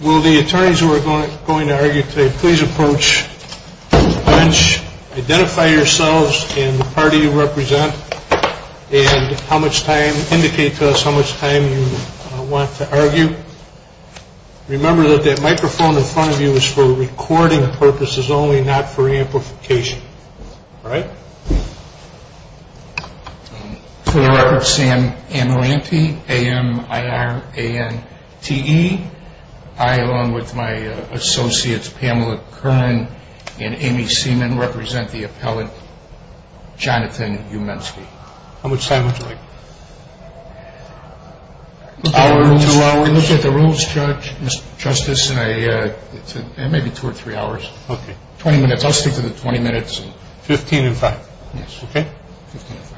Will the attorneys who are going to argue today please approach the bench, identify yourselves and the party you represent, and how much time, indicate to us how much time you want to argue. Remember that the microphone in front of you is for recording purposes only, not for amplification. For the record, Sam Amirante, A-M-I-R-A-N-T-E. I, along with my associates Pamela Kern and Amy Seaman, represent the appellate Jonathan Humenski. How much time would you like? An hour or two hours. We'll look at the rules, Judge, Mr. Justice, in maybe two or three hours. Okay. Twenty minutes. I'll stick to the twenty minutes. Fifteen and five. Yes. Okay. Fifteen and five.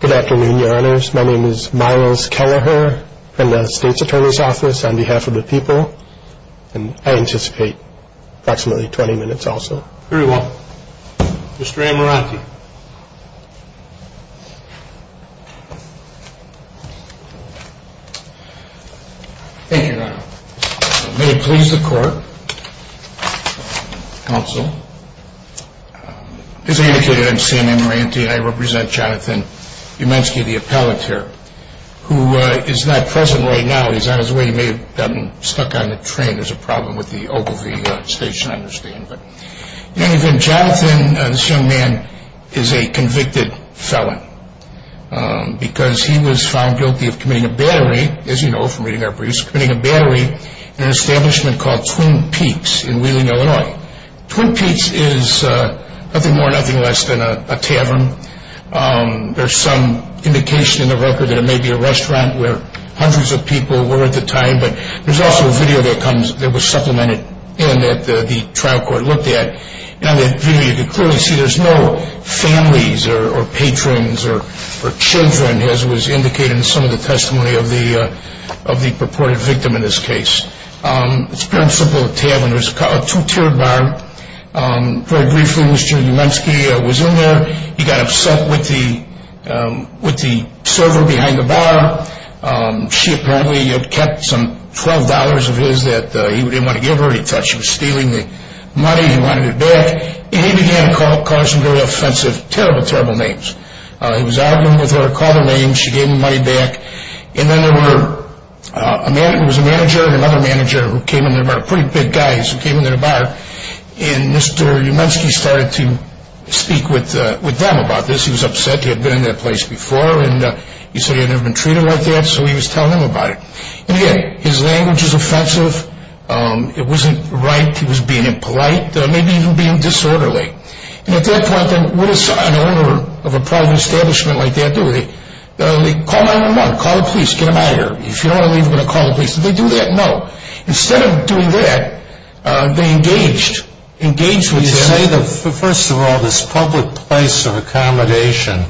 Good afternoon, Your Honors. My name is Myles Kelleher from the State's Attorney's Office on behalf of the people. And I anticipate approximately twenty minutes also. Very well. Mr. Amirante. Thank you, Your Honor. May it please the Court, Counsel. As I indicated, I'm Sam Amirante and I represent Jonathan Humenski, the appellate here, who is not present right now. He's on his way. He may have gotten stuck on the train. There's a problem with the Ogilvie Station, I understand. In any event, Jonathan, this young man, is a convicted felon because he was found guilty of committing a battery, as you know from reading our briefs, committing a battery in an establishment called Twin Peaks in Wheeling, Illinois. Twin Peaks is nothing more, nothing less than a tavern. There's some indication in the record that it may be a restaurant where hundreds of people were at the time, but there's also a video that was supplemented in that the trial court looked at. In that video, you can clearly see there's no families or patrons or children, as was indicated in some of the testimony of the purported victim in this case. It's a very simple tavern. There's a two-tiered bar. Very briefly, Mr. Humenski was in there. He got upset with the server behind the bar. She apparently had kept some $12 of his that he didn't want to give her. He thought she was stealing the money. He wanted it back. And he began to call her some very offensive, terrible, terrible names. He was arguing with her, called her names. She gave him the money back. And then there was a manager and another manager who came in the bar, pretty big guys who came in the bar, and Mr. Humenski started to speak with them about this. He was upset. He had been in that place before. And he said he had never been treated like that, so he was telling them about it. And again, his language was offensive. It wasn't right. He was being impolite. Maybe even being disorderly. And at that point, what does an owner of a private establishment like that do? They call 911, call the police, get them out of here. If you don't want to leave, we're going to call the police. Did they do that? No. Instead of doing that, they engaged with him. You say, first of all, this public place of accommodation.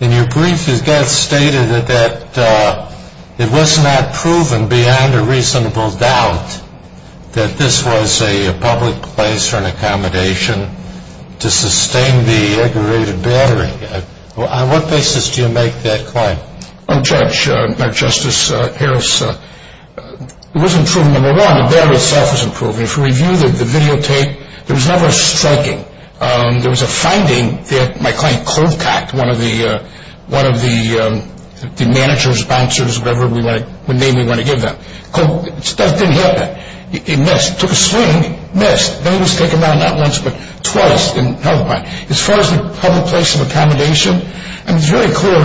In your brief, it got stated that it was not proven beyond a reasonable doubt that this was a public place or an accommodation to sustain the aggravated battery. On what basis do you make that claim? Judge, Justice Harris, it wasn't proven. Number one, the battery itself was improved. If you review the videotape, there was never a striking. There was a finding that my client, Colcott, one of the managers, sponsors, whatever name we want to give them. It didn't happen. He missed. He took a swing, missed. Then he was taken down, not once, but twice. As far as the public place of accommodation, it was very clear.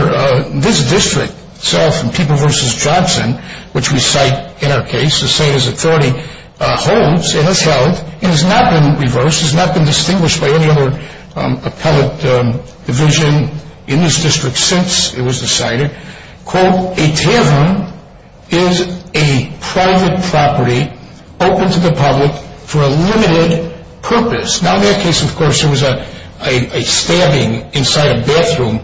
This district itself in People v. Johnson, which we cite in our case, the same as authority, holds, it has held, and has not been reversed, has not been distinguished by any other appellate division in this district since it was decided, quote, a tavern is a private property open to the public for a limited purpose. Now, in that case, of course, there was a stabbing inside a bathroom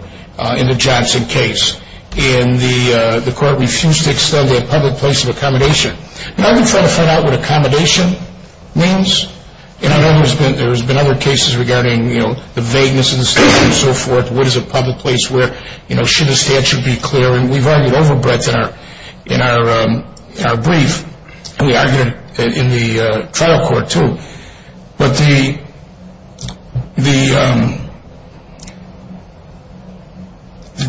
in the Johnson case, and the court refused to extend a public place of accommodation. Now, we're trying to find out what accommodation means, and I know there's been other cases regarding, you know, the vagueness of the statute and so forth. What is a public place where, you know, should a statute be clear? And we've argued over breadth in our brief, and we argued it in the trial court, too. But the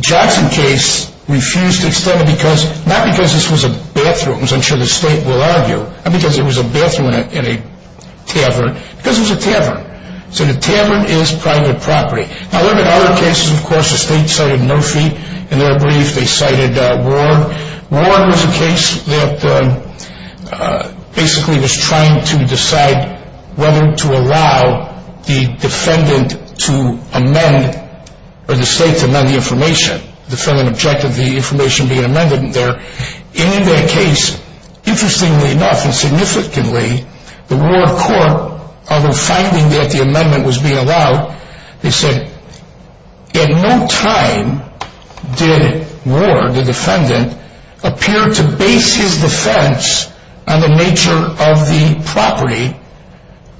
Johnson case refused to extend because, not because this was a bathroom, as I'm sure the state will argue, not because it was a bathroom in a tavern, because it was a tavern. So the tavern is private property. Now, there have been other cases, of course, the state cited Murphy. In their brief, they cited Warren. Warren was a case that basically was trying to decide whether to allow the defendant to amend, or the state to amend the information, the defendant objected to the information being amended there. And in that case, interestingly enough and significantly, the Warren court, although finding that the amendment was being allowed, they said, at no time did Warren, the defendant, appear to base his defense on the nature of the property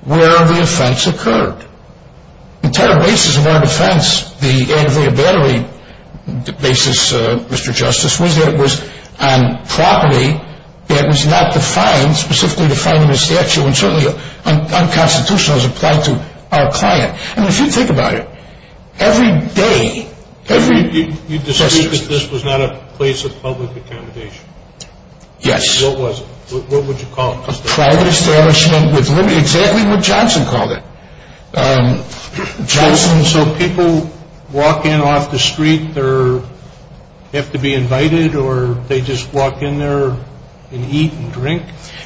where the offense occurred. The entire basis of our defense, the ad via battery basis, Mr. Justice, was that it was on property that was not defined, specifically defined in the statute, and certainly unconstitutional as applied to our client. And if you think about it, every day, every... You disagree that this was not a place of public accommodation? Yes. What was it? What would you call it? A private establishment with limited... exactly what Johnson called it. Johnson... So people walk in off the street, they have to be invited, or they just walk in there and eat and drink?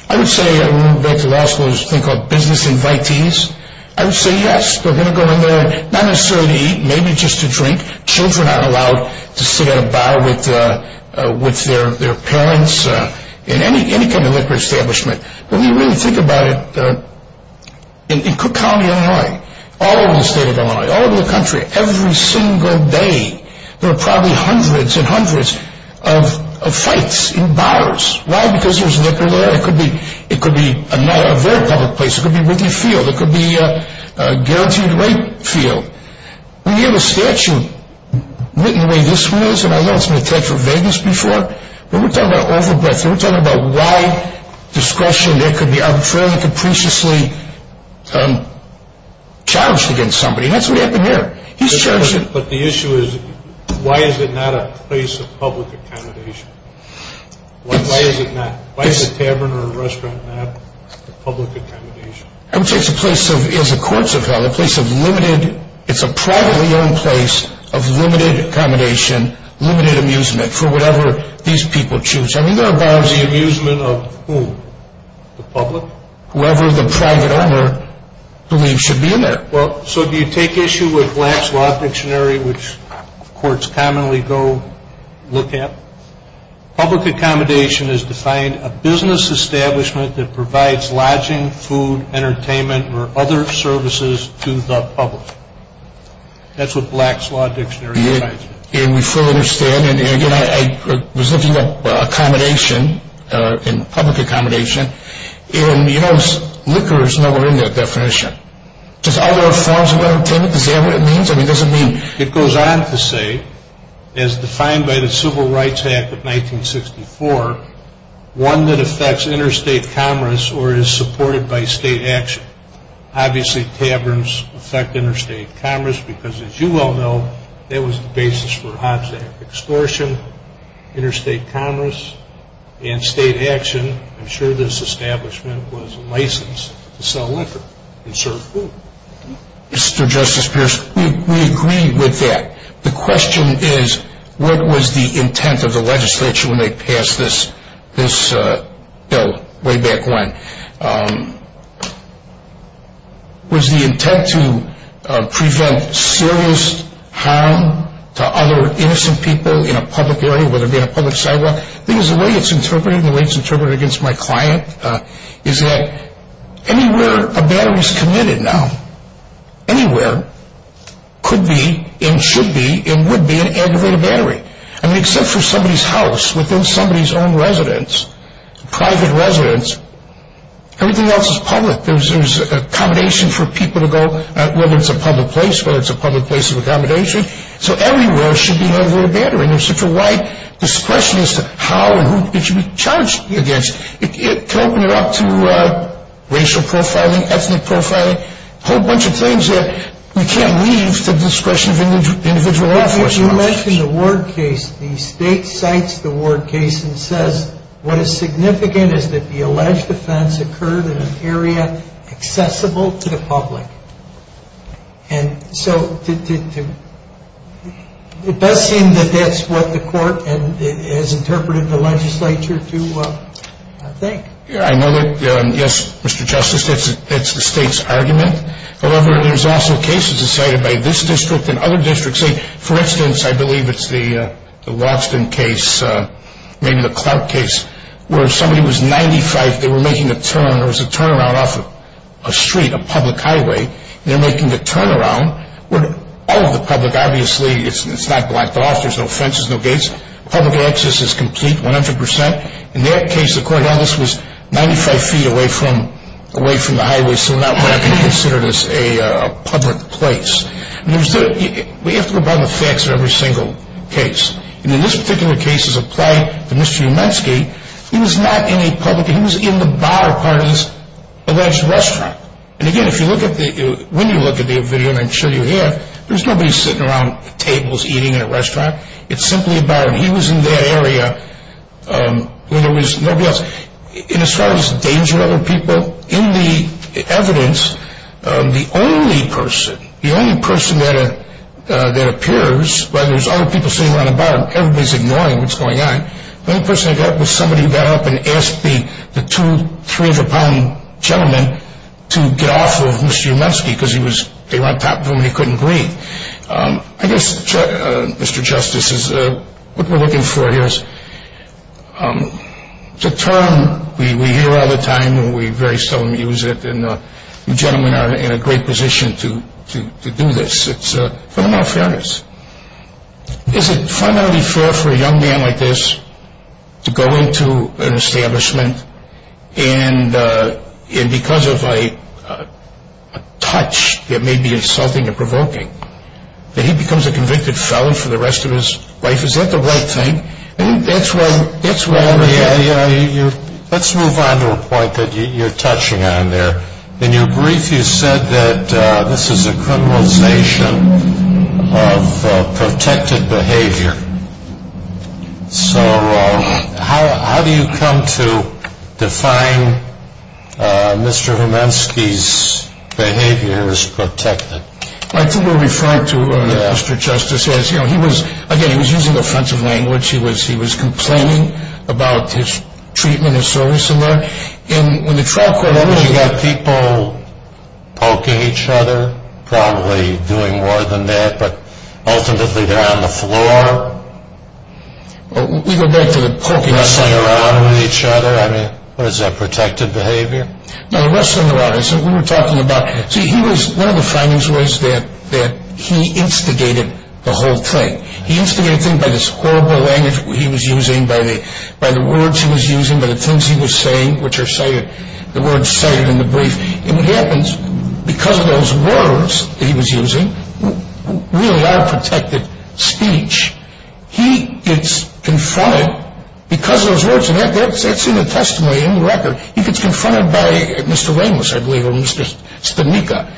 I would say, I remember back in law school, there was a thing called business invitees. I would say, yes, they're going to go in there, not necessarily to eat, maybe just to drink. Children are allowed to sit at a bar with their parents, in any kind of liquor establishment. But when you really think about it, in Cook County, Illinois, all over the state of Illinois, all over the country, every single day, there are probably hundreds and hundreds of fights in bars. Why? Because there's liquor there? It could be a very public place. It could be Whitley Field. It could be Guaranteed Rate Field. We have a statute written the way this was, and I know it's been attached to Vegas before, but we're talking about over-breadth. We're talking about why discretion there could be unfairly, capriciously challenged against somebody. And that's what happened here. But the issue is, why is it not a place of public accommodation? Why is it not? Why is a tavern or a restaurant not a public accommodation? I would say it's a place of, as the courts have held, a place of limited, it's a privately owned place of limited accommodation, limited amusement, for whatever these people choose. I mean, there are bars. The amusement of whom? The public? Whoever the private owner believes should be there. Well, so do you take issue with Black's Law Dictionary, which courts commonly go look at? Public accommodation is defined a business establishment that provides lodging, food, entertainment, or other services to the public. That's what Black's Law Dictionary defines it. And we fully understand, and again, I was looking at accommodation and public accommodation, and you know, liquor is nowhere in that definition. Just other forms of entertainment, is that what it means? I mean, does it mean? It goes on to say, as defined by the Civil Rights Act of 1964, one that affects interstate commerce or is supported by state action. Obviously, taverns affect interstate commerce because, as you well know, that was the basis for Hobbs Act extortion, interstate commerce, and state action. I'm sure this establishment was licensed to sell liquor. Mr. Justice Pierce, we agree with that. The question is, what was the intent of the legislature when they passed this bill way back when? Was the intent to prevent serious harm to other innocent people in a public area, whether it be a public sidewalk? Because the way it's interpreted, and the way it's interpreted against my client, is that anywhere a battery is committed now, anywhere, could be and should be and would be an aggravated battery. I mean, except for somebody's house, within somebody's own residence, private residence, everything else is public. There's accommodation for people to go, whether it's a public place, whether it's a public place of accommodation. So everywhere should be an aggravated battery. There's such a wide discretion as to how and who it should be charged against. It can open it up to racial profiling, ethnic profiling, a whole bunch of things that we can't leave to the discretion of individual law enforcement officers. You mentioned the Ward case. The state cites the Ward case and says, what is significant is that the alleged offense occurred in an area accessible to the public. And so it does seem that that's what the court has interpreted the legislature to think. I know that, yes, Mr. Justice, that's the state's argument. However, there's also cases cited by this district and other districts. For instance, I believe it's the Watson case, maybe the Clark case, where somebody was 95, they were making a turn, there was a turnaround off a street, a public highway. They're making the turnaround. All of the public, obviously, it's not blocked off. There's no fences, no gates. Public access is complete, 100 percent. In that case, the courthouse was 95 feet away from the highway, so that would have to be considered as a public place. We have to go by the facts of every single case. And in this particular case, as applied to Mr. Umensky, he was not in a public, he was in the bar part of this alleged restaurant. And, again, if you look at the, when you look at the video, and I'm sure you have, there's nobody sitting around tables eating in a restaurant. It's simply about him. He was in that area when there was nobody else. And as far as danger of other people, in the evidence, the only person, the only person that appears, whether it's other people sitting around the bar, everybody's ignoring what's going on, the only person that got up was somebody who got up and asked the two 300-pound gentlemen to get off of Mr. Umensky because they were on top of him and he couldn't breathe. I guess, Mr. Justice, what we're looking for here is the term we hear all the time and we very seldom use it, and you gentlemen are in a great position to do this. It's a form of fairness. Is it fundamentally fair for a young man like this to go into an establishment and because of a touch that may be insulting or provoking, that he becomes a convicted felon for the rest of his life? Is that the right thing? Let's move on to a point that you're touching on there. In your brief, you said that this is a criminalization of protected behavior. So how do you come to define Mr. Umensky's behavior as protected? I think we're referring to, Mr. Justice, again, he was using offensive language. He was complaining about his treatment and service. When the trial court opened... Did you have people poking each other, probably doing more than that, but ultimately they're on the floor? We go back to the poking. Wrestling around with each other. I mean, what is that, protected behavior? No, the wrestling around. See, one of the findings was that he instigated the whole thing. He instigated things by this horrible language he was using, by the words he was using, by the things he was saying, which are cited in the brief. And what happens, because of those words that he was using, really are protected speech. He gets confronted because of those words. And that's in the testimony, in the record. He gets confronted by Mr. Ramos, I believe, or Mr. Spineca.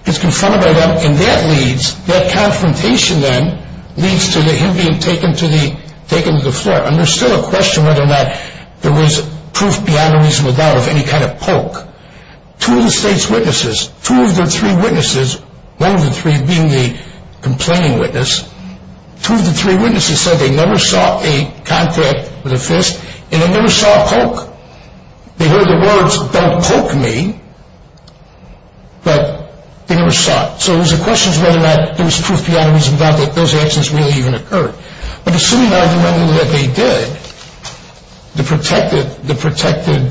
He gets confronted by them, and that leads, that confrontation then, leads to him being taken to the floor. And there's still a question whether or not there was proof beyond a reasonable doubt of any kind of poke. Two of the state's witnesses, two of their three witnesses, one of the three being the complaining witness, two of the three witnesses said they never saw a contact with a fist, and they never saw a poke. They heard the words, don't poke me, but they never saw it. So it was a question of whether or not there was proof beyond a reasonable doubt that those answers really even occurred. But assuming, arguably, that they did, the protected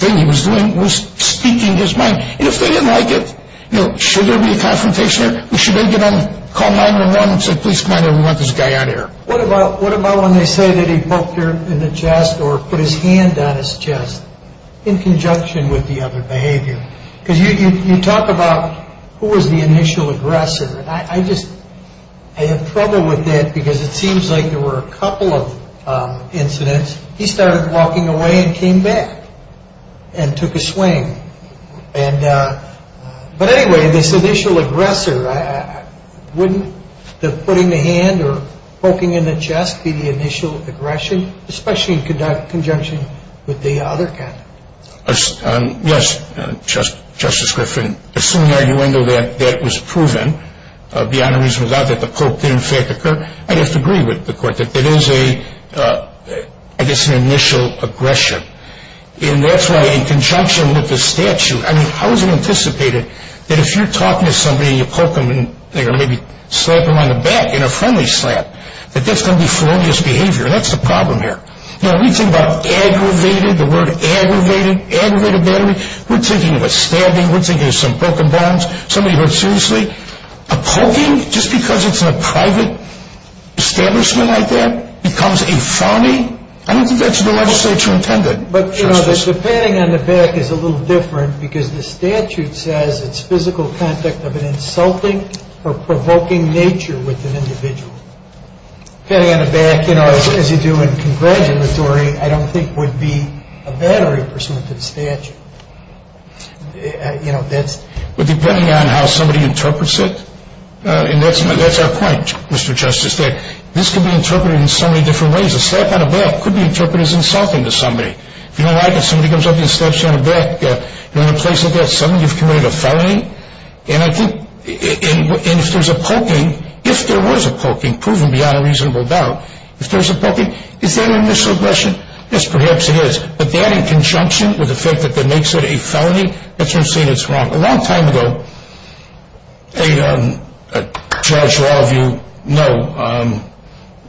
thing he was doing was speaking his mind. And if they didn't like it, you know, should there be a confrontation? Or should they get on, call 911 and say, please come on over, we want this guy on air. What about when they say that he poked her in the chest or put his hand on his chest in conjunction with the other behavior? Because you talk about who was the initial aggressor. I just, I have trouble with that because it seems like there were a couple of incidents. He started walking away and came back and took a swing. And, but anyway, this initial aggressor, wouldn't the putting the hand or poking in the chest be the initial aggression, especially in conjunction with the other kind? Yes, Justice Griffin. Assuming the argument that that was proven beyond a reasonable doubt that the poke did, in fact, occur, I'd have to agree with the Court that it is a, I guess, an initial aggression. And that's why, in conjunction with the statute, I mean, how is it anticipated that if you're talking to somebody and you poke them in, or maybe slap them on the back in a friendly slap, that that's going to be felonious behavior? That's the problem here. Now, when you think about aggravated, the word aggravated, aggravated battery, we're thinking of a stabbing, we're thinking of some broken bones, somebody hurt seriously. A poking, just because it's in a private establishment like that, becomes a phony? I don't think that's the legislature intended. But, you know, the patting on the back is a little different because the statute says it's physical contact of an insulting or provoking nature with an individual. Patting on the back, you know, as you do in congratulatory, I don't think would be a battery pursuant to the statute. You know, that's… But depending on how somebody interprets it, and that's our point, Mr. Justice, is that this could be interpreted in so many different ways. A slap on the back could be interpreted as insulting to somebody. If you don't like it, somebody comes up to you and slaps you on the back, you're in a place like that, suddenly you've committed a felony? And I think if there's a poking, if there was a poking, proven beyond a reasonable doubt, if there's a poking, is that an initial aggression? Yes, perhaps it is. But that in conjunction with the fact that that makes it a felony, that's when you're saying it's wrong. A long time ago, a judge who all of you know,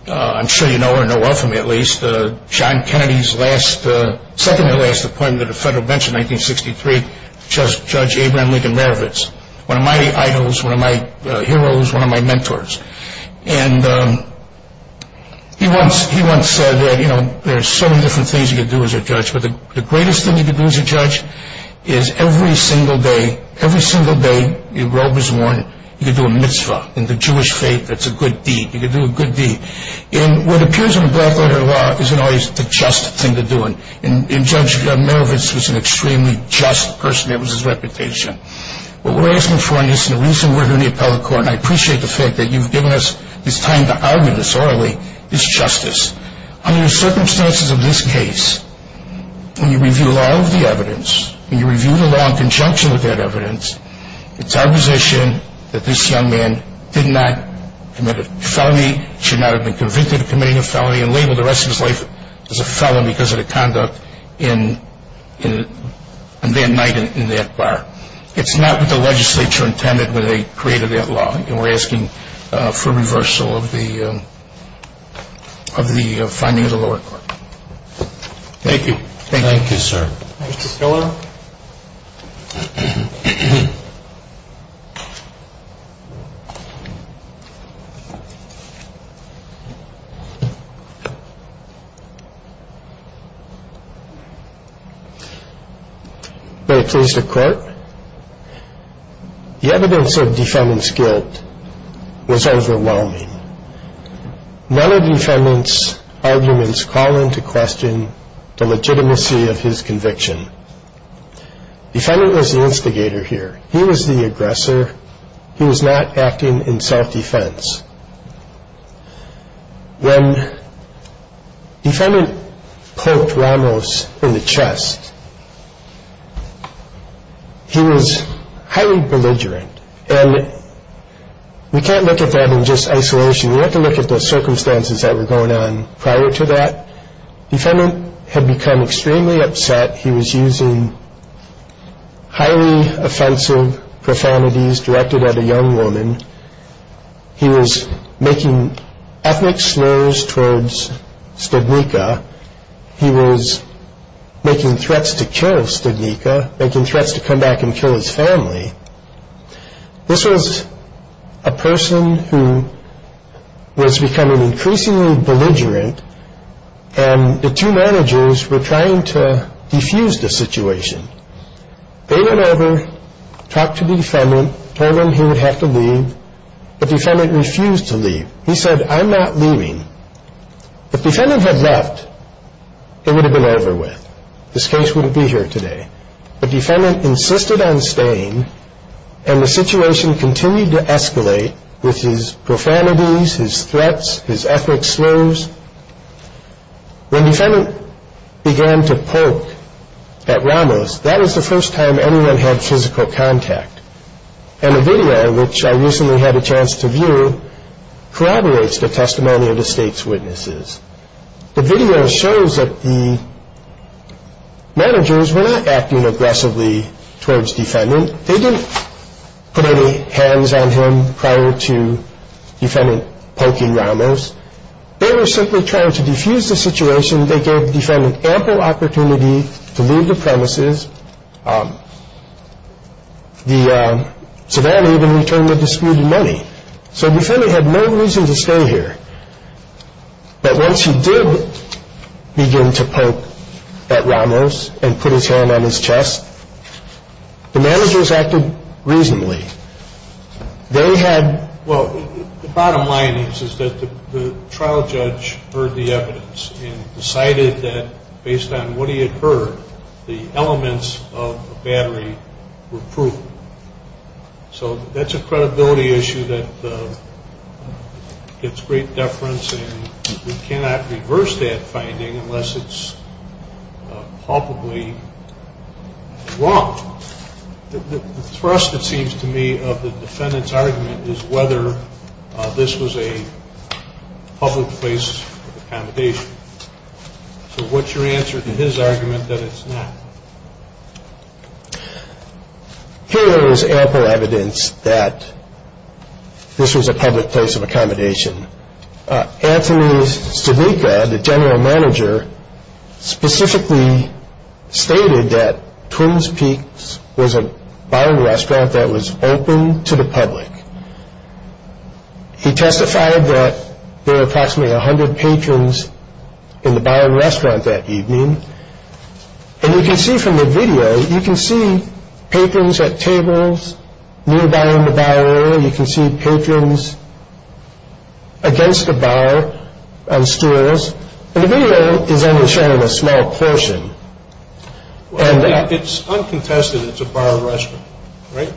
I'm sure you know or know well from me at least, John Kennedy's second-to-last appointment to the federal bench in 1963, Judge Abraham Lincoln Marovitz, one of my idols, one of my heroes, one of my mentors. And he once said that, you know, there's so many different things you could do as a judge, but the greatest thing you could do as a judge is every single day, every single day your robe is worn, you could do a mitzvah. In the Jewish faith, that's a good deed. You could do a good deed. And what appears in a black-letter law isn't always the just thing to do. And Judge Marovitz was an extremely just person. It was his reputation. What we're asking for in this, and the reason we're doing the appellate court, and I appreciate the fact that you've given us this time to argue this orally, is justice. Under the circumstances of this case, when you review all of the evidence, when you review the law in conjunction with that evidence, it's our position that this young man did not commit a felony, should not have been convicted of committing a felony, and labeled the rest of his life as a felony because of the conduct that night in that bar. It's not what the legislature intended when they created that law. And we're asking for reversal of the findings of the lower court. Thank you. Thank you, sir. Mr. Stiller? May I please declare? The evidence of Defendant's guilt was overwhelming. None of Defendant's arguments call into question the legitimacy of his conviction. Defendant was the instigator here. He was the aggressor. He was not acting in self-defense. When Defendant poked Ramos in the chest, he was highly belligerent. And we can't look at that in just isolation. We have to look at the circumstances that were going on prior to that. Defendant had become extremely upset. He was using highly offensive profanities directed at a young woman. He was making ethnic slurs towards Stednicka. He was making threats to kill Stednicka, making threats to come back and kill his family. This was a person who was becoming increasingly belligerent, and the two managers were trying to defuse the situation. They went over, talked to Defendant, told him he would have to leave. But Defendant refused to leave. He said, I'm not leaving. If Defendant had left, it would have been over with. This case wouldn't be here today. But Defendant insisted on staying, and the situation continued to escalate with his profanities, his threats, his ethnic slurs. When Defendant began to poke at Ramos, that was the first time anyone had physical contact. And the video, which I recently had a chance to view, corroborates the testimony of the State's witnesses. The video shows that the managers were not acting aggressively towards Defendant. They didn't put any hands on him prior to Defendant poking Ramos. They were simply trying to defuse the situation. They gave Defendant ample opportunity to leave the premises. Savannah even returned the disputed money. So Defendant had no reason to stay here. But once he did begin to poke at Ramos and put his hand on his chest, the managers acted reasonably. They had... Well, the bottom line is that the trial judge heard the evidence and decided that based on what he had heard, the elements of the battery were proven. So that's a credibility issue that gets great deference, and we cannot reverse that finding unless it's palpably wrong. The thrust, it seems to me, of the Defendant's argument is whether this was a public place of accommodation. So what's your answer to his argument that it's not? Here is ample evidence that this was a public place of accommodation. Anthony Stavica, the general manager, specifically stated that Twin Peaks was a bar and restaurant that was open to the public. He testified that there were approximately 100 patrons in the bar and restaurant that evening. And you can see from the video, you can see patrons at tables nearby in the bar area. You can see patrons against the bar on stools. And the video is only showing a small portion. It's uncontested it's a bar and restaurant, right?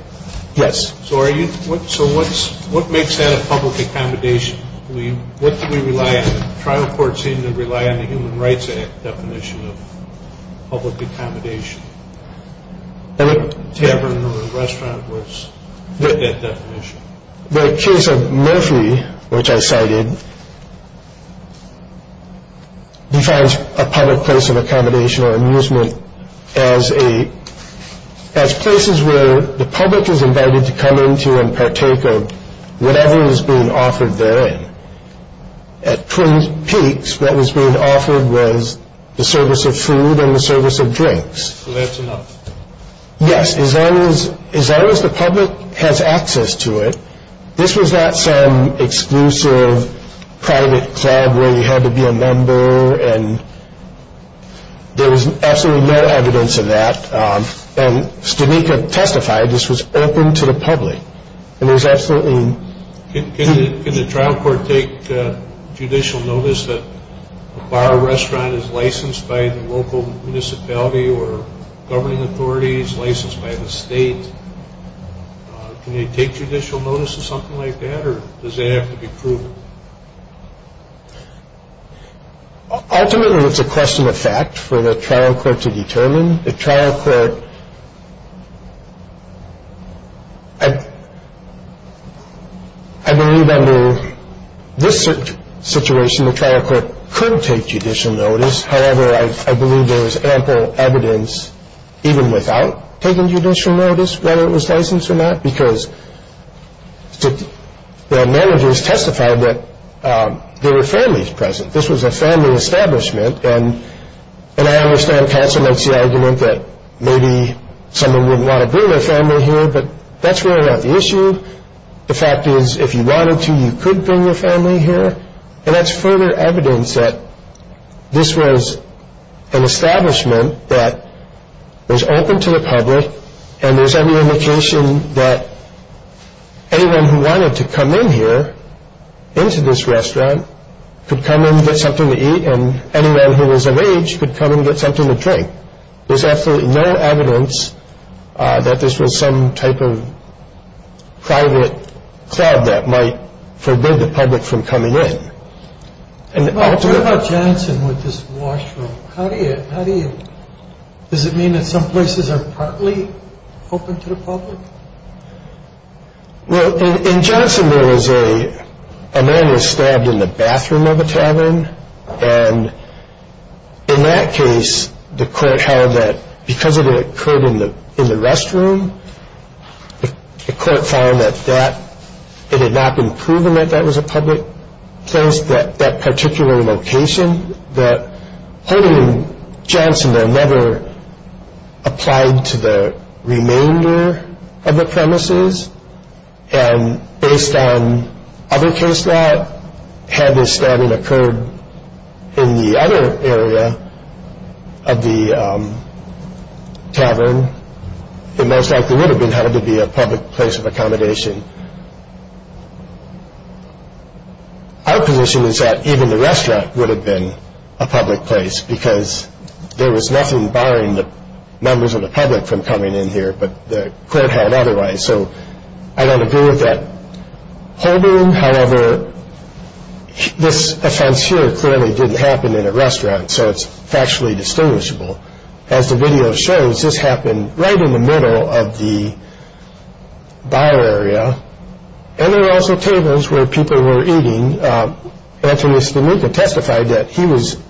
Yes. So what makes that a public accommodation? What do we rely on? The trial court seemed to rely on the Human Rights Act definition of public accommodation. A tavern or a restaurant was that definition. The case of Murphy, which I cited, defines a public place of accommodation or amusement as places where the public is invited to come into and partake of whatever was being offered therein. At Twin Peaks, what was being offered was the service of food and the service of drinks. So that's enough. Yes, as long as the public has access to it. This was not some exclusive private club where you had to be a member. And there was absolutely no evidence of that. And Stavica testified this was open to the public. Can the trial court take judicial notice that a bar or restaurant is licensed by the local municipality or governing authority is licensed by the state? Can they take judicial notice of something like that? Or does it have to be proven? Ultimately, it's a question of fact for the trial court to determine. The trial court, I believe under this situation, the trial court could take judicial notice. However, I believe there is ample evidence even without taking judicial notice whether it was licensed or not because the managers testified that there were families present. This was a family establishment. And I understand Councilman C's argument that maybe someone wouldn't want to bring their family here, but that's really not the issue. The fact is if you wanted to, you could bring your family here. And that's further evidence that this was an establishment that was open to the public. And there's every indication that anyone who wanted to come in here, into this restaurant, could come in and get something to eat. And anyone who was of age could come in and get something to drink. There's absolutely no evidence that this was some type of private club that might forbid the public from coming in. What about Jensen with this washroom? How do you – does it mean that some places are partly open to the public? Well, in Jensen there was a man was stabbed in the bathroom of a tavern. And in that case, the court held that because it occurred in the restroom, the court found that it had not been proven that that was a public place, that particular location, that holding Jensen there never applied to the remainder of the premises. And based on other case law, had this stabbing occurred in the other area of the tavern, it most likely would have been held to be a public place of accommodation. Our position is that even the restaurant would have been a public place because there was nothing barring the members of the public from coming in here, but the court had otherwise. So I don't agree with that holding. However, this offense here clearly didn't happen in a restaurant, so it's factually distinguishable. As the video shows, this happened right in the middle of the bar area. And there were also tables where people were eating. Anthony Spineca testified that he was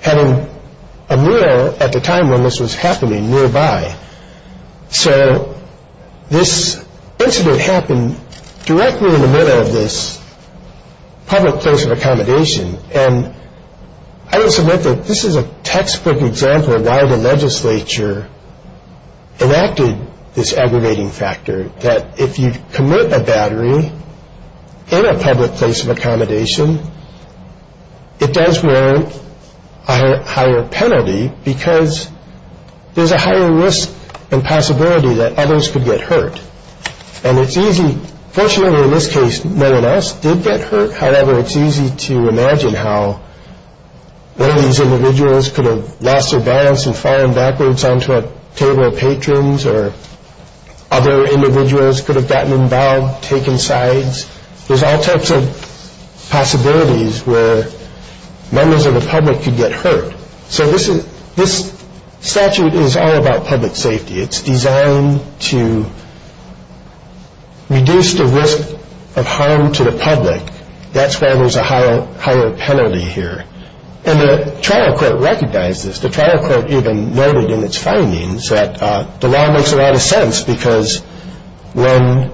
having a meal at the time when this was happening nearby. So this incident happened directly in the middle of this public place of accommodation. And I would submit that this is a textbook example of why the legislature enacted this aggravating factor, that if you commit a battery in a public place of accommodation, it does warrant a higher penalty because there's a higher risk and possibility that others could get hurt. And it's easy. Fortunately, in this case, no one else did get hurt. However, it's easy to imagine how one of these individuals could have lost their balance and fallen backwards onto a table of patrons or other individuals could have gotten involved, taken sides. There's all types of possibilities where members of the public could get hurt. So this statute is all about public safety. It's designed to reduce the risk of harm to the public. That's why there's a higher penalty here. And the trial court recognized this. The trial court even noted in its findings that the law makes a lot of sense because when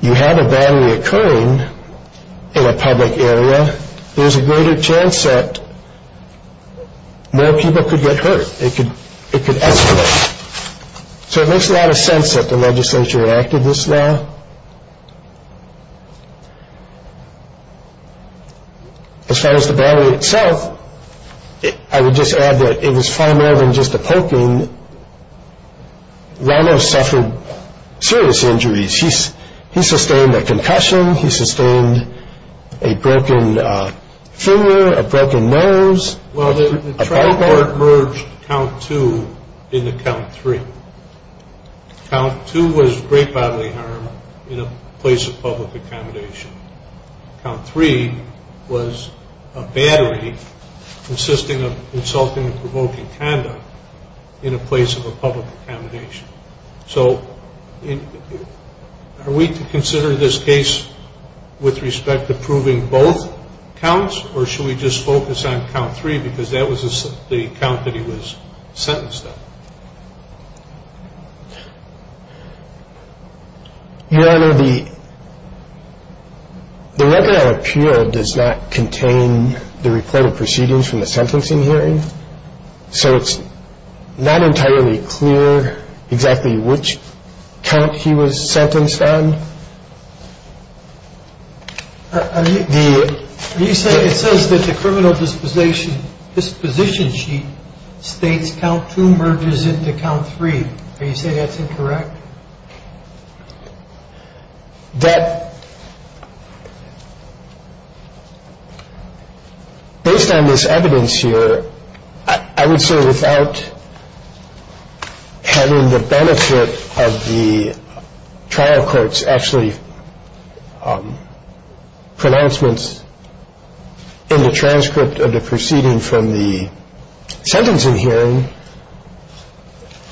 you have a battery occurring in a public area, it could escalate. So it makes a lot of sense that the legislature enacted this law. As far as the battery itself, I would just add that it was far more than just a poking. Ramos suffered serious injuries. He sustained a concussion. He sustained a broken finger, a broken nose. Well, the trial court merged count two into count three. Count two was great bodily harm in a place of public accommodation. Count three was a battery consisting of insulting and provoking conduct in a place of a public accommodation. So are we to consider this case with respect to proving both counts, or should we just focus on count three because that was the count that he was sentenced on? Your Honor, the webinar appeal does not contain the reported proceedings from the sentencing hearing. So it's not entirely clear exactly which count he was sentenced on. It says that the criminal disposition sheet states count two merges into count three. Are you saying that's incorrect? Your Honor, that, based on this evidence here, I would say without having the benefit of the trial court's actually pronouncements in the transcript of the proceeding from the sentencing hearing,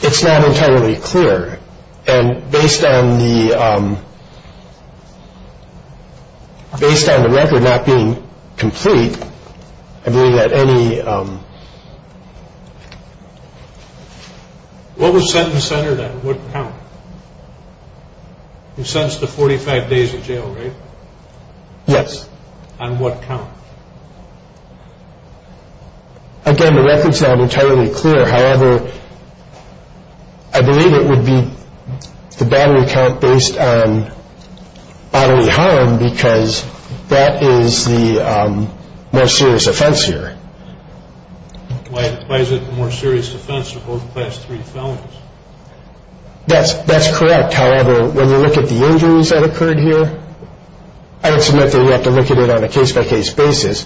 it's not entirely clear. And based on the record not being complete, I believe that any— What was sentence centered at? What count? He was sentenced to 45 days of jail, right? Yes. On what count? Again, the record's not entirely clear. However, I believe it would be the battery count based on bodily harm because that is the more serious offense here. Why is it the more serious offense to hold the past three felons? That's correct. However, when you look at the injuries that occurred here, I would submit that we have to look at it on a case-by-case basis.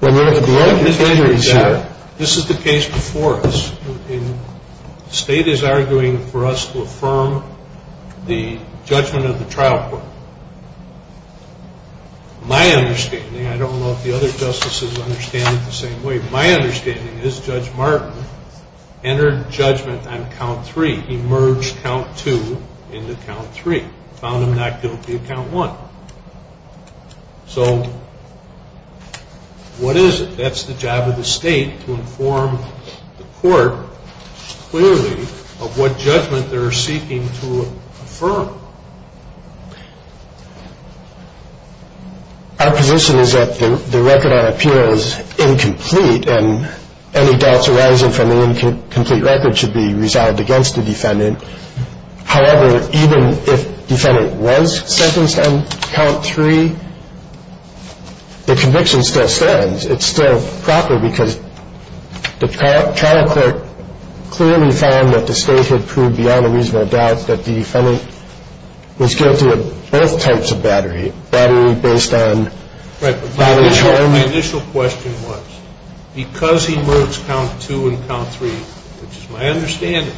When you look at the injuries here— This is the case before us. The state is arguing for us to affirm the judgment of the trial court. My understanding, I don't know if the other justices understand it the same way, My understanding is Judge Martin entered judgment on count three. He merged count two into count three, found him not guilty of count one. So what is it? That's the job of the state to inform the court clearly of what judgment they're seeking to affirm. Our position is that the record on appeal is incomplete and any doubts arising from the incomplete record should be resolved against the defendant. However, even if the defendant was sentenced on count three, the conviction still stands. It's still proper because the trial court clearly found that the state had proved beyond a reasonable doubt that the defendant was guilty of both types of battery, battery based on battery charge. My initial question was, because he merged count two and count three, which is my understanding,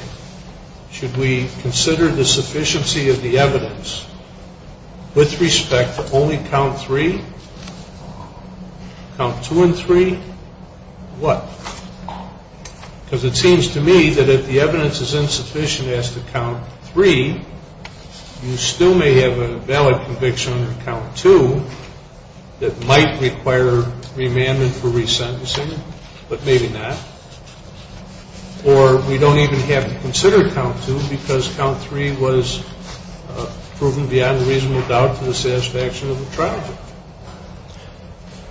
should we consider the sufficiency of the evidence with respect to only count three? Count two and three? What? Because it seems to me that if the evidence is insufficient as to count three, you still may have a valid conviction under count two that might require remandment for resentencing, but maybe not. Or we don't even have to consider count two because count three was proven beyond a reasonable doubt to the satisfaction of the trial court.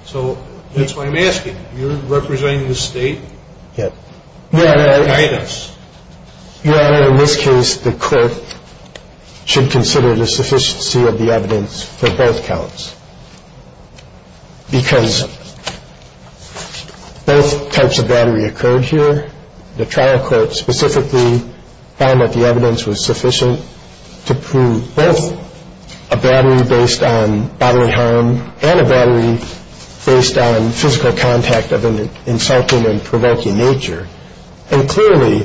So that's why I'm asking. You're representing the state? Yes. In this case, the court should consider the sufficiency of the evidence for both counts because both types of battery occurred here. The trial court specifically found that the evidence was sufficient to prove both a battery based on bodily harm and a battery based on physical contact of an insulting or provoking nature. And clearly,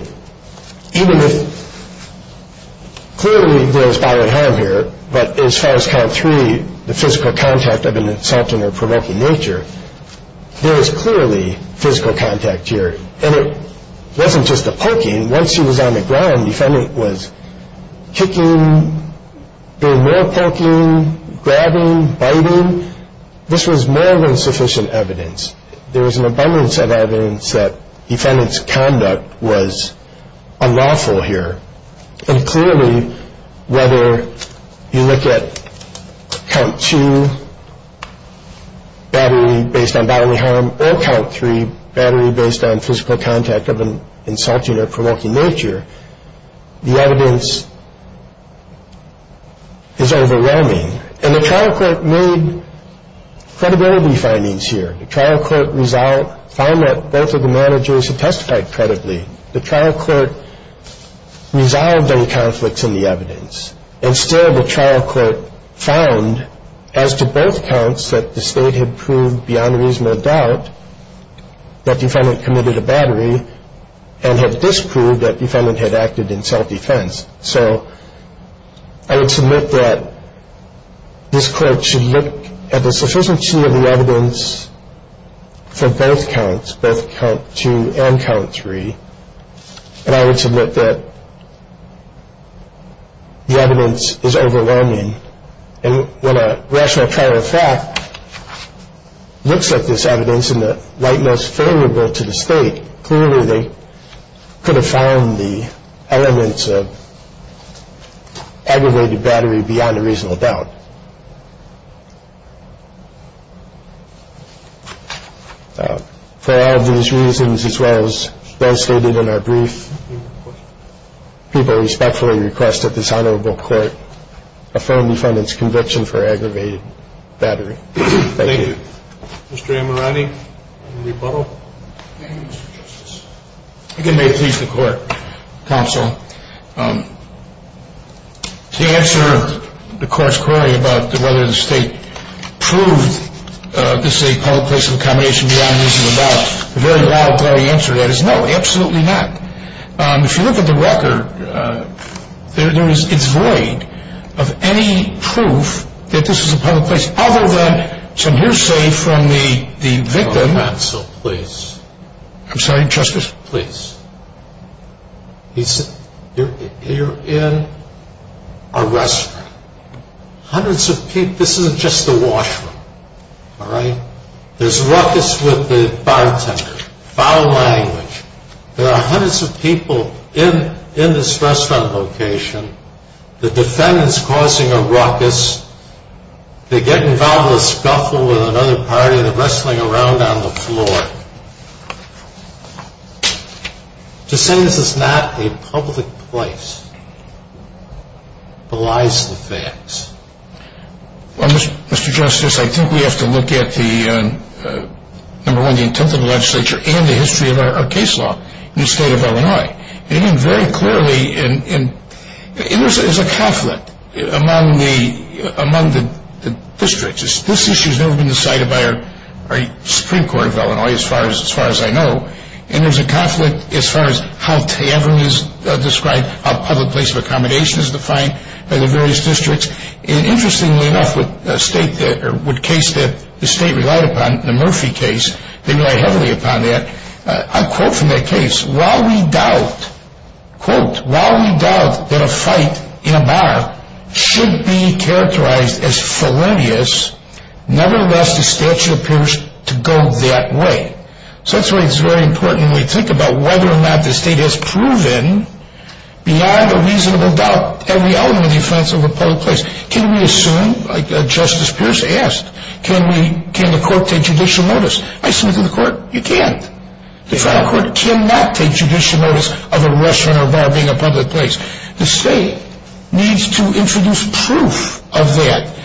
even if clearly there is bodily harm here, but as far as count three, the physical contact of an insulting or provoking nature, there is clearly physical contact here. And it wasn't just a poking. Once he was on the ground, the defendant was kicking, doing more poking, grabbing, biting. This was more than sufficient evidence. There was an abundance of evidence that the defendant's conduct was unlawful here. And clearly, whether you look at count two, battery based on bodily harm, or count three, battery based on physical contact of an insulting or provoking nature, the evidence is overwhelming. And the trial court made credibility findings here. The trial court found that both of the managers had testified credibly. And still the trial court found, as to both counts, that the state had proved beyond reasonable doubt that the defendant committed a battery and had disproved that the defendant had acted in self-defense. So I would submit that this court should look at the sufficiency of the evidence for both counts, both count two and count three. And I would submit that the evidence is overwhelming. And when a rational trial of fact looks at this evidence in the light most favorable to the state, clearly they could have found the elements of aggravated battery beyond a reasonable doubt. For all of these reasons, as well as those stated in our brief, people respectfully request that this honorable court affirm the defendant's conviction for aggravated battery. Thank you. Thank you. Mr. Amirani, any rebuttal? Thank you, Mr. Justice. If you may, please, the court, counsel. To answer the court's query about whether the state proved this a public place of accommodation beyond reasonable doubt, the very loud, clear answer to that is no, absolutely not. If you look at the record, it's void of any proof that this is a public place, other than some hearsay from the victim. Counsel, please. I'm sorry, Justice? Please. You're in a restaurant. Hundreds of people. This isn't just a washroom, all right? There's ruckus with the bartender. Foul language. There are hundreds of people in this restaurant location. The defendant's causing a ruckus. They get involved in a scuffle with another party. They're wrestling around on the floor. To say this is not a public place belies the facts. Well, Mr. Justice, I think we have to look at, number one, the intent of the legislature and the history of our case law in the state of Illinois. And even very clearly, there's a conflict among the districts. This issue has never been decided by our Supreme Court of Illinois, as far as I know. And there's a conflict as far as how tavern is described, how public place of accommodation is defined by the various districts. And interestingly enough, with a case that the state relied upon, the Murphy case, they relied heavily upon that. I quote from that case, while we doubt, quote, while we doubt that a fight in a bar should be characterized as felonious, nevertheless, the statute appears to go that way. So that's why it's very important when we think about whether or not the state has proven, beyond a reasonable doubt, every element of the offense of a public place. Can we assume, like Justice Pierce asked, can the court take judicial notice? I say to the court, you can't. The trial court cannot take judicial notice of a restaurant or a bar being a public place. The state needs to introduce proof of that.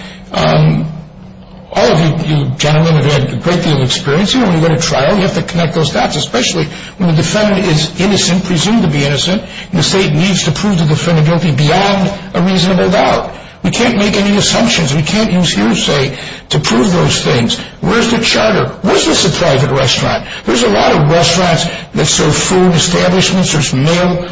All of you gentlemen have had a great deal of experience here. When you go to trial, you have to connect those dots, especially when the defendant is innocent, presumed to be innocent, and the state needs to prove the defendant guilty beyond a reasonable doubt. We can't make any assumptions. We can't use hearsay to prove those things. Where's the charter? Was this a private restaurant? There's a lot of restaurants that serve food establishments. There's male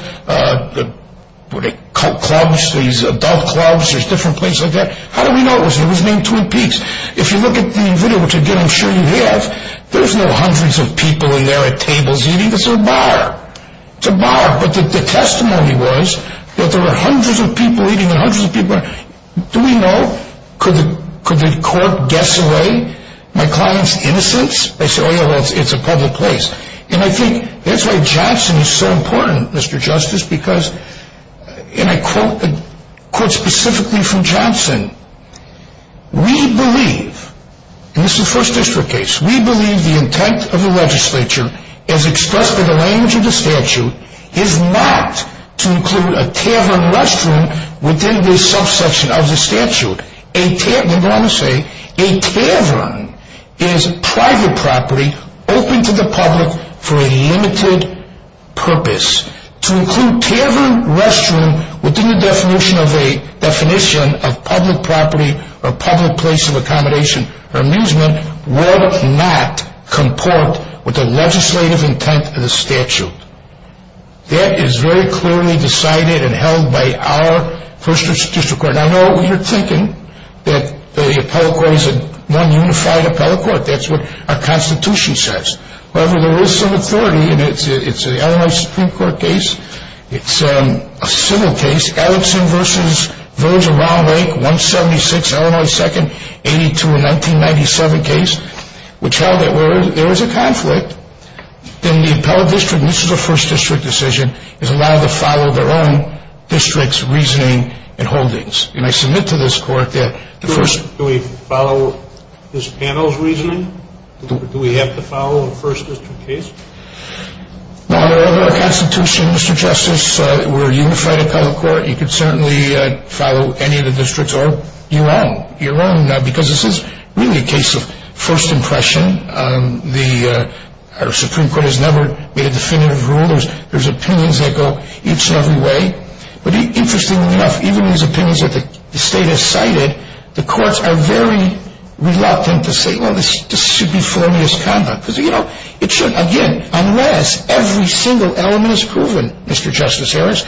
clubs, there's adult clubs, there's different places like that. How do we know it was named Twin Peaks? If you look at the video, which, again, I'm sure you have, there's no hundreds of people in there at tables eating. It's a bar. It's a bar. But the testimony was that there were hundreds of people eating and hundreds of people... Do we know? Could the court guess away my client's innocence? They say, oh, yeah, well, it's a public place. And I think that's why Johnson is so important, Mr. Justice, because, and I quote specifically from Johnson, we believe, and this is a First District case, we believe the intent of the legislature, as expressed in the language of the statute, is not to include a tavern restaurant within the subsection of the statute. We're going to say a tavern is private property open to the public for a limited purpose. To include tavern restaurant within the definition of public property or public place of accommodation or amusement would not comport with the legislative intent of the statute. That is very clearly decided and held by our First District Court. And I know what you're thinking, that the appellate court is one unified appellate court. That's what our Constitution says. However, there is some authority, and it's an Illinois Supreme Court case. It's a civil case, Alexson v. Village of Round Lake, 176, Illinois 2nd, 82, a 1997 case, which held that where there was a conflict, then the appellate district, and this is a First District decision, is allowed to follow their own district's reasoning and holdings. And I submit to this court that the first Do we follow this panel's reasoning? Do we have to follow a First District case? No, under our Constitution, Mr. Justice, we're a unified appellate court. You could certainly follow any of the districts, or your own. Because this is really a case of first impression. Our Supreme Court has never made a definitive rule. There's opinions that go each and every way. But interestingly enough, even these opinions that the state has cited, the courts are very reluctant to say, well, this should be formless conduct. Because, you know, it shouldn't, again, unless every single element is proven, Mr. Justice Harris.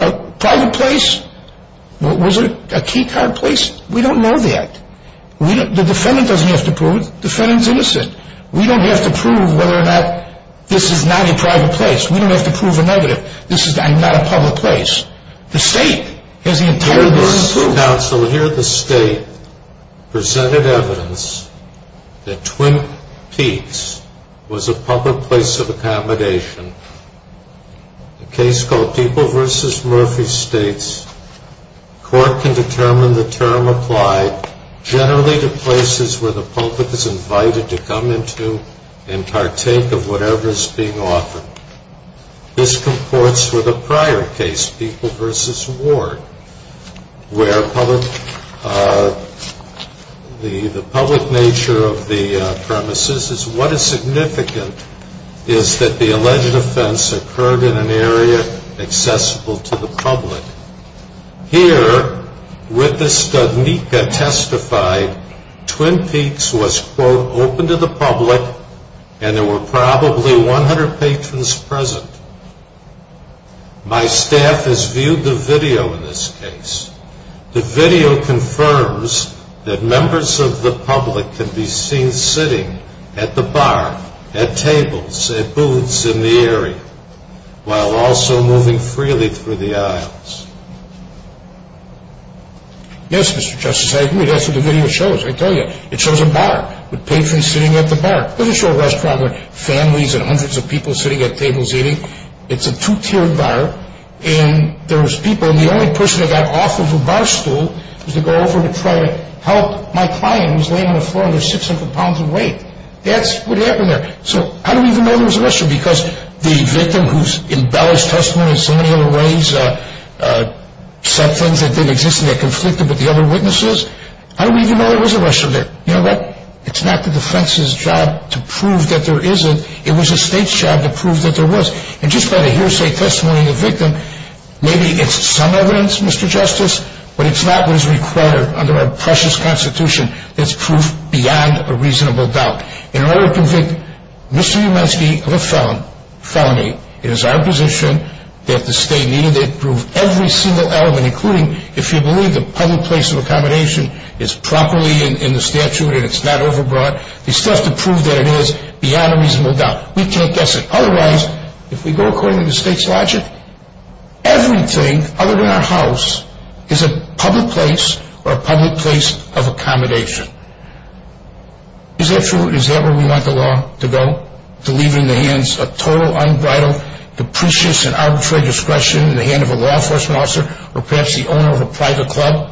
A private place, was it a key card place? We don't know that. The defendant doesn't have to prove it. The defendant's innocent. We don't have to prove whether or not this is not a private place. We don't have to prove a negative. This is not a public place. The state has the entire burden to prove it. Your Honor, counsel, here the state presented evidence that Twin Peaks was a public place of accommodation. A case called People v. Murphy states, court can determine the term applied generally to places where the public is invited to come into and partake of whatever is being offered. This comports with a prior case, People v. Ward, where the public nature of the premises is what is significant is that the alleged offense occurred in an area accessible to the public. Here, with the study testified, Twin Peaks was, quote, open to the public and there were probably 100 patrons present. My staff has viewed the video in this case. The video confirms that members of the public can be seen sitting at the bar, at tables, at booths in the area while also moving freely through the aisles. Yes, Mr. Justice, I agree. That's what the video shows, I tell you. It shows a bar with patrons sitting at the bar. It doesn't show a restaurant with families and hundreds of people sitting at tables eating. It's a two-tiered bar and there was people and the only person that got off of a bar stool was to go over to try to help my client who was laying on the floor under 600 pounds of weight. That's what happened there. So how do we even know there was a restaurant? Because the victim whose embellished testimony in so many other ways said things that didn't exist and that conflicted with the other witnesses, how do we even know there was a restaurant there? You know what? It's not the defense's job to prove that there isn't. It was the state's job to prove that there was. And just by the hearsay testimony of the victim, maybe it's some evidence, Mr. Justice, but it's not what is required under our precious Constitution that's proof beyond a reasonable doubt. In order to convict Mr. Umensky of a felony, it is our position that the state needed to prove every single element, including if you believe the public place of accommodation is properly in the statute and it's not overbought, the stuff to prove that it is beyond a reasonable doubt. We can't guess it. Otherwise, if we go according to the state's logic, everything other than our house is a public place or a public place of accommodation. Is that true? Is that where we want the law to go? To leave it in the hands of total, unbridled, deprecious and arbitrary discretion in the hand of a law enforcement officer or perhaps the owner of a private club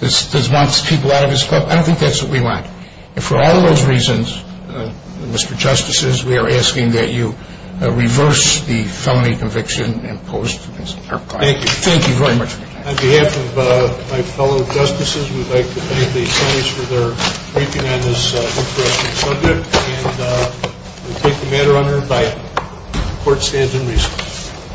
that wants people out of his club? I don't think that's what we want. And for all those reasons, Mr. Justices, we are asking that you reverse the felony conviction imposed. Thank you. Thank you very much. On behalf of my fellow justices, we'd like to thank the attorneys for their briefing on this interesting subject. And we take the matter under a bite. Court stands in recess.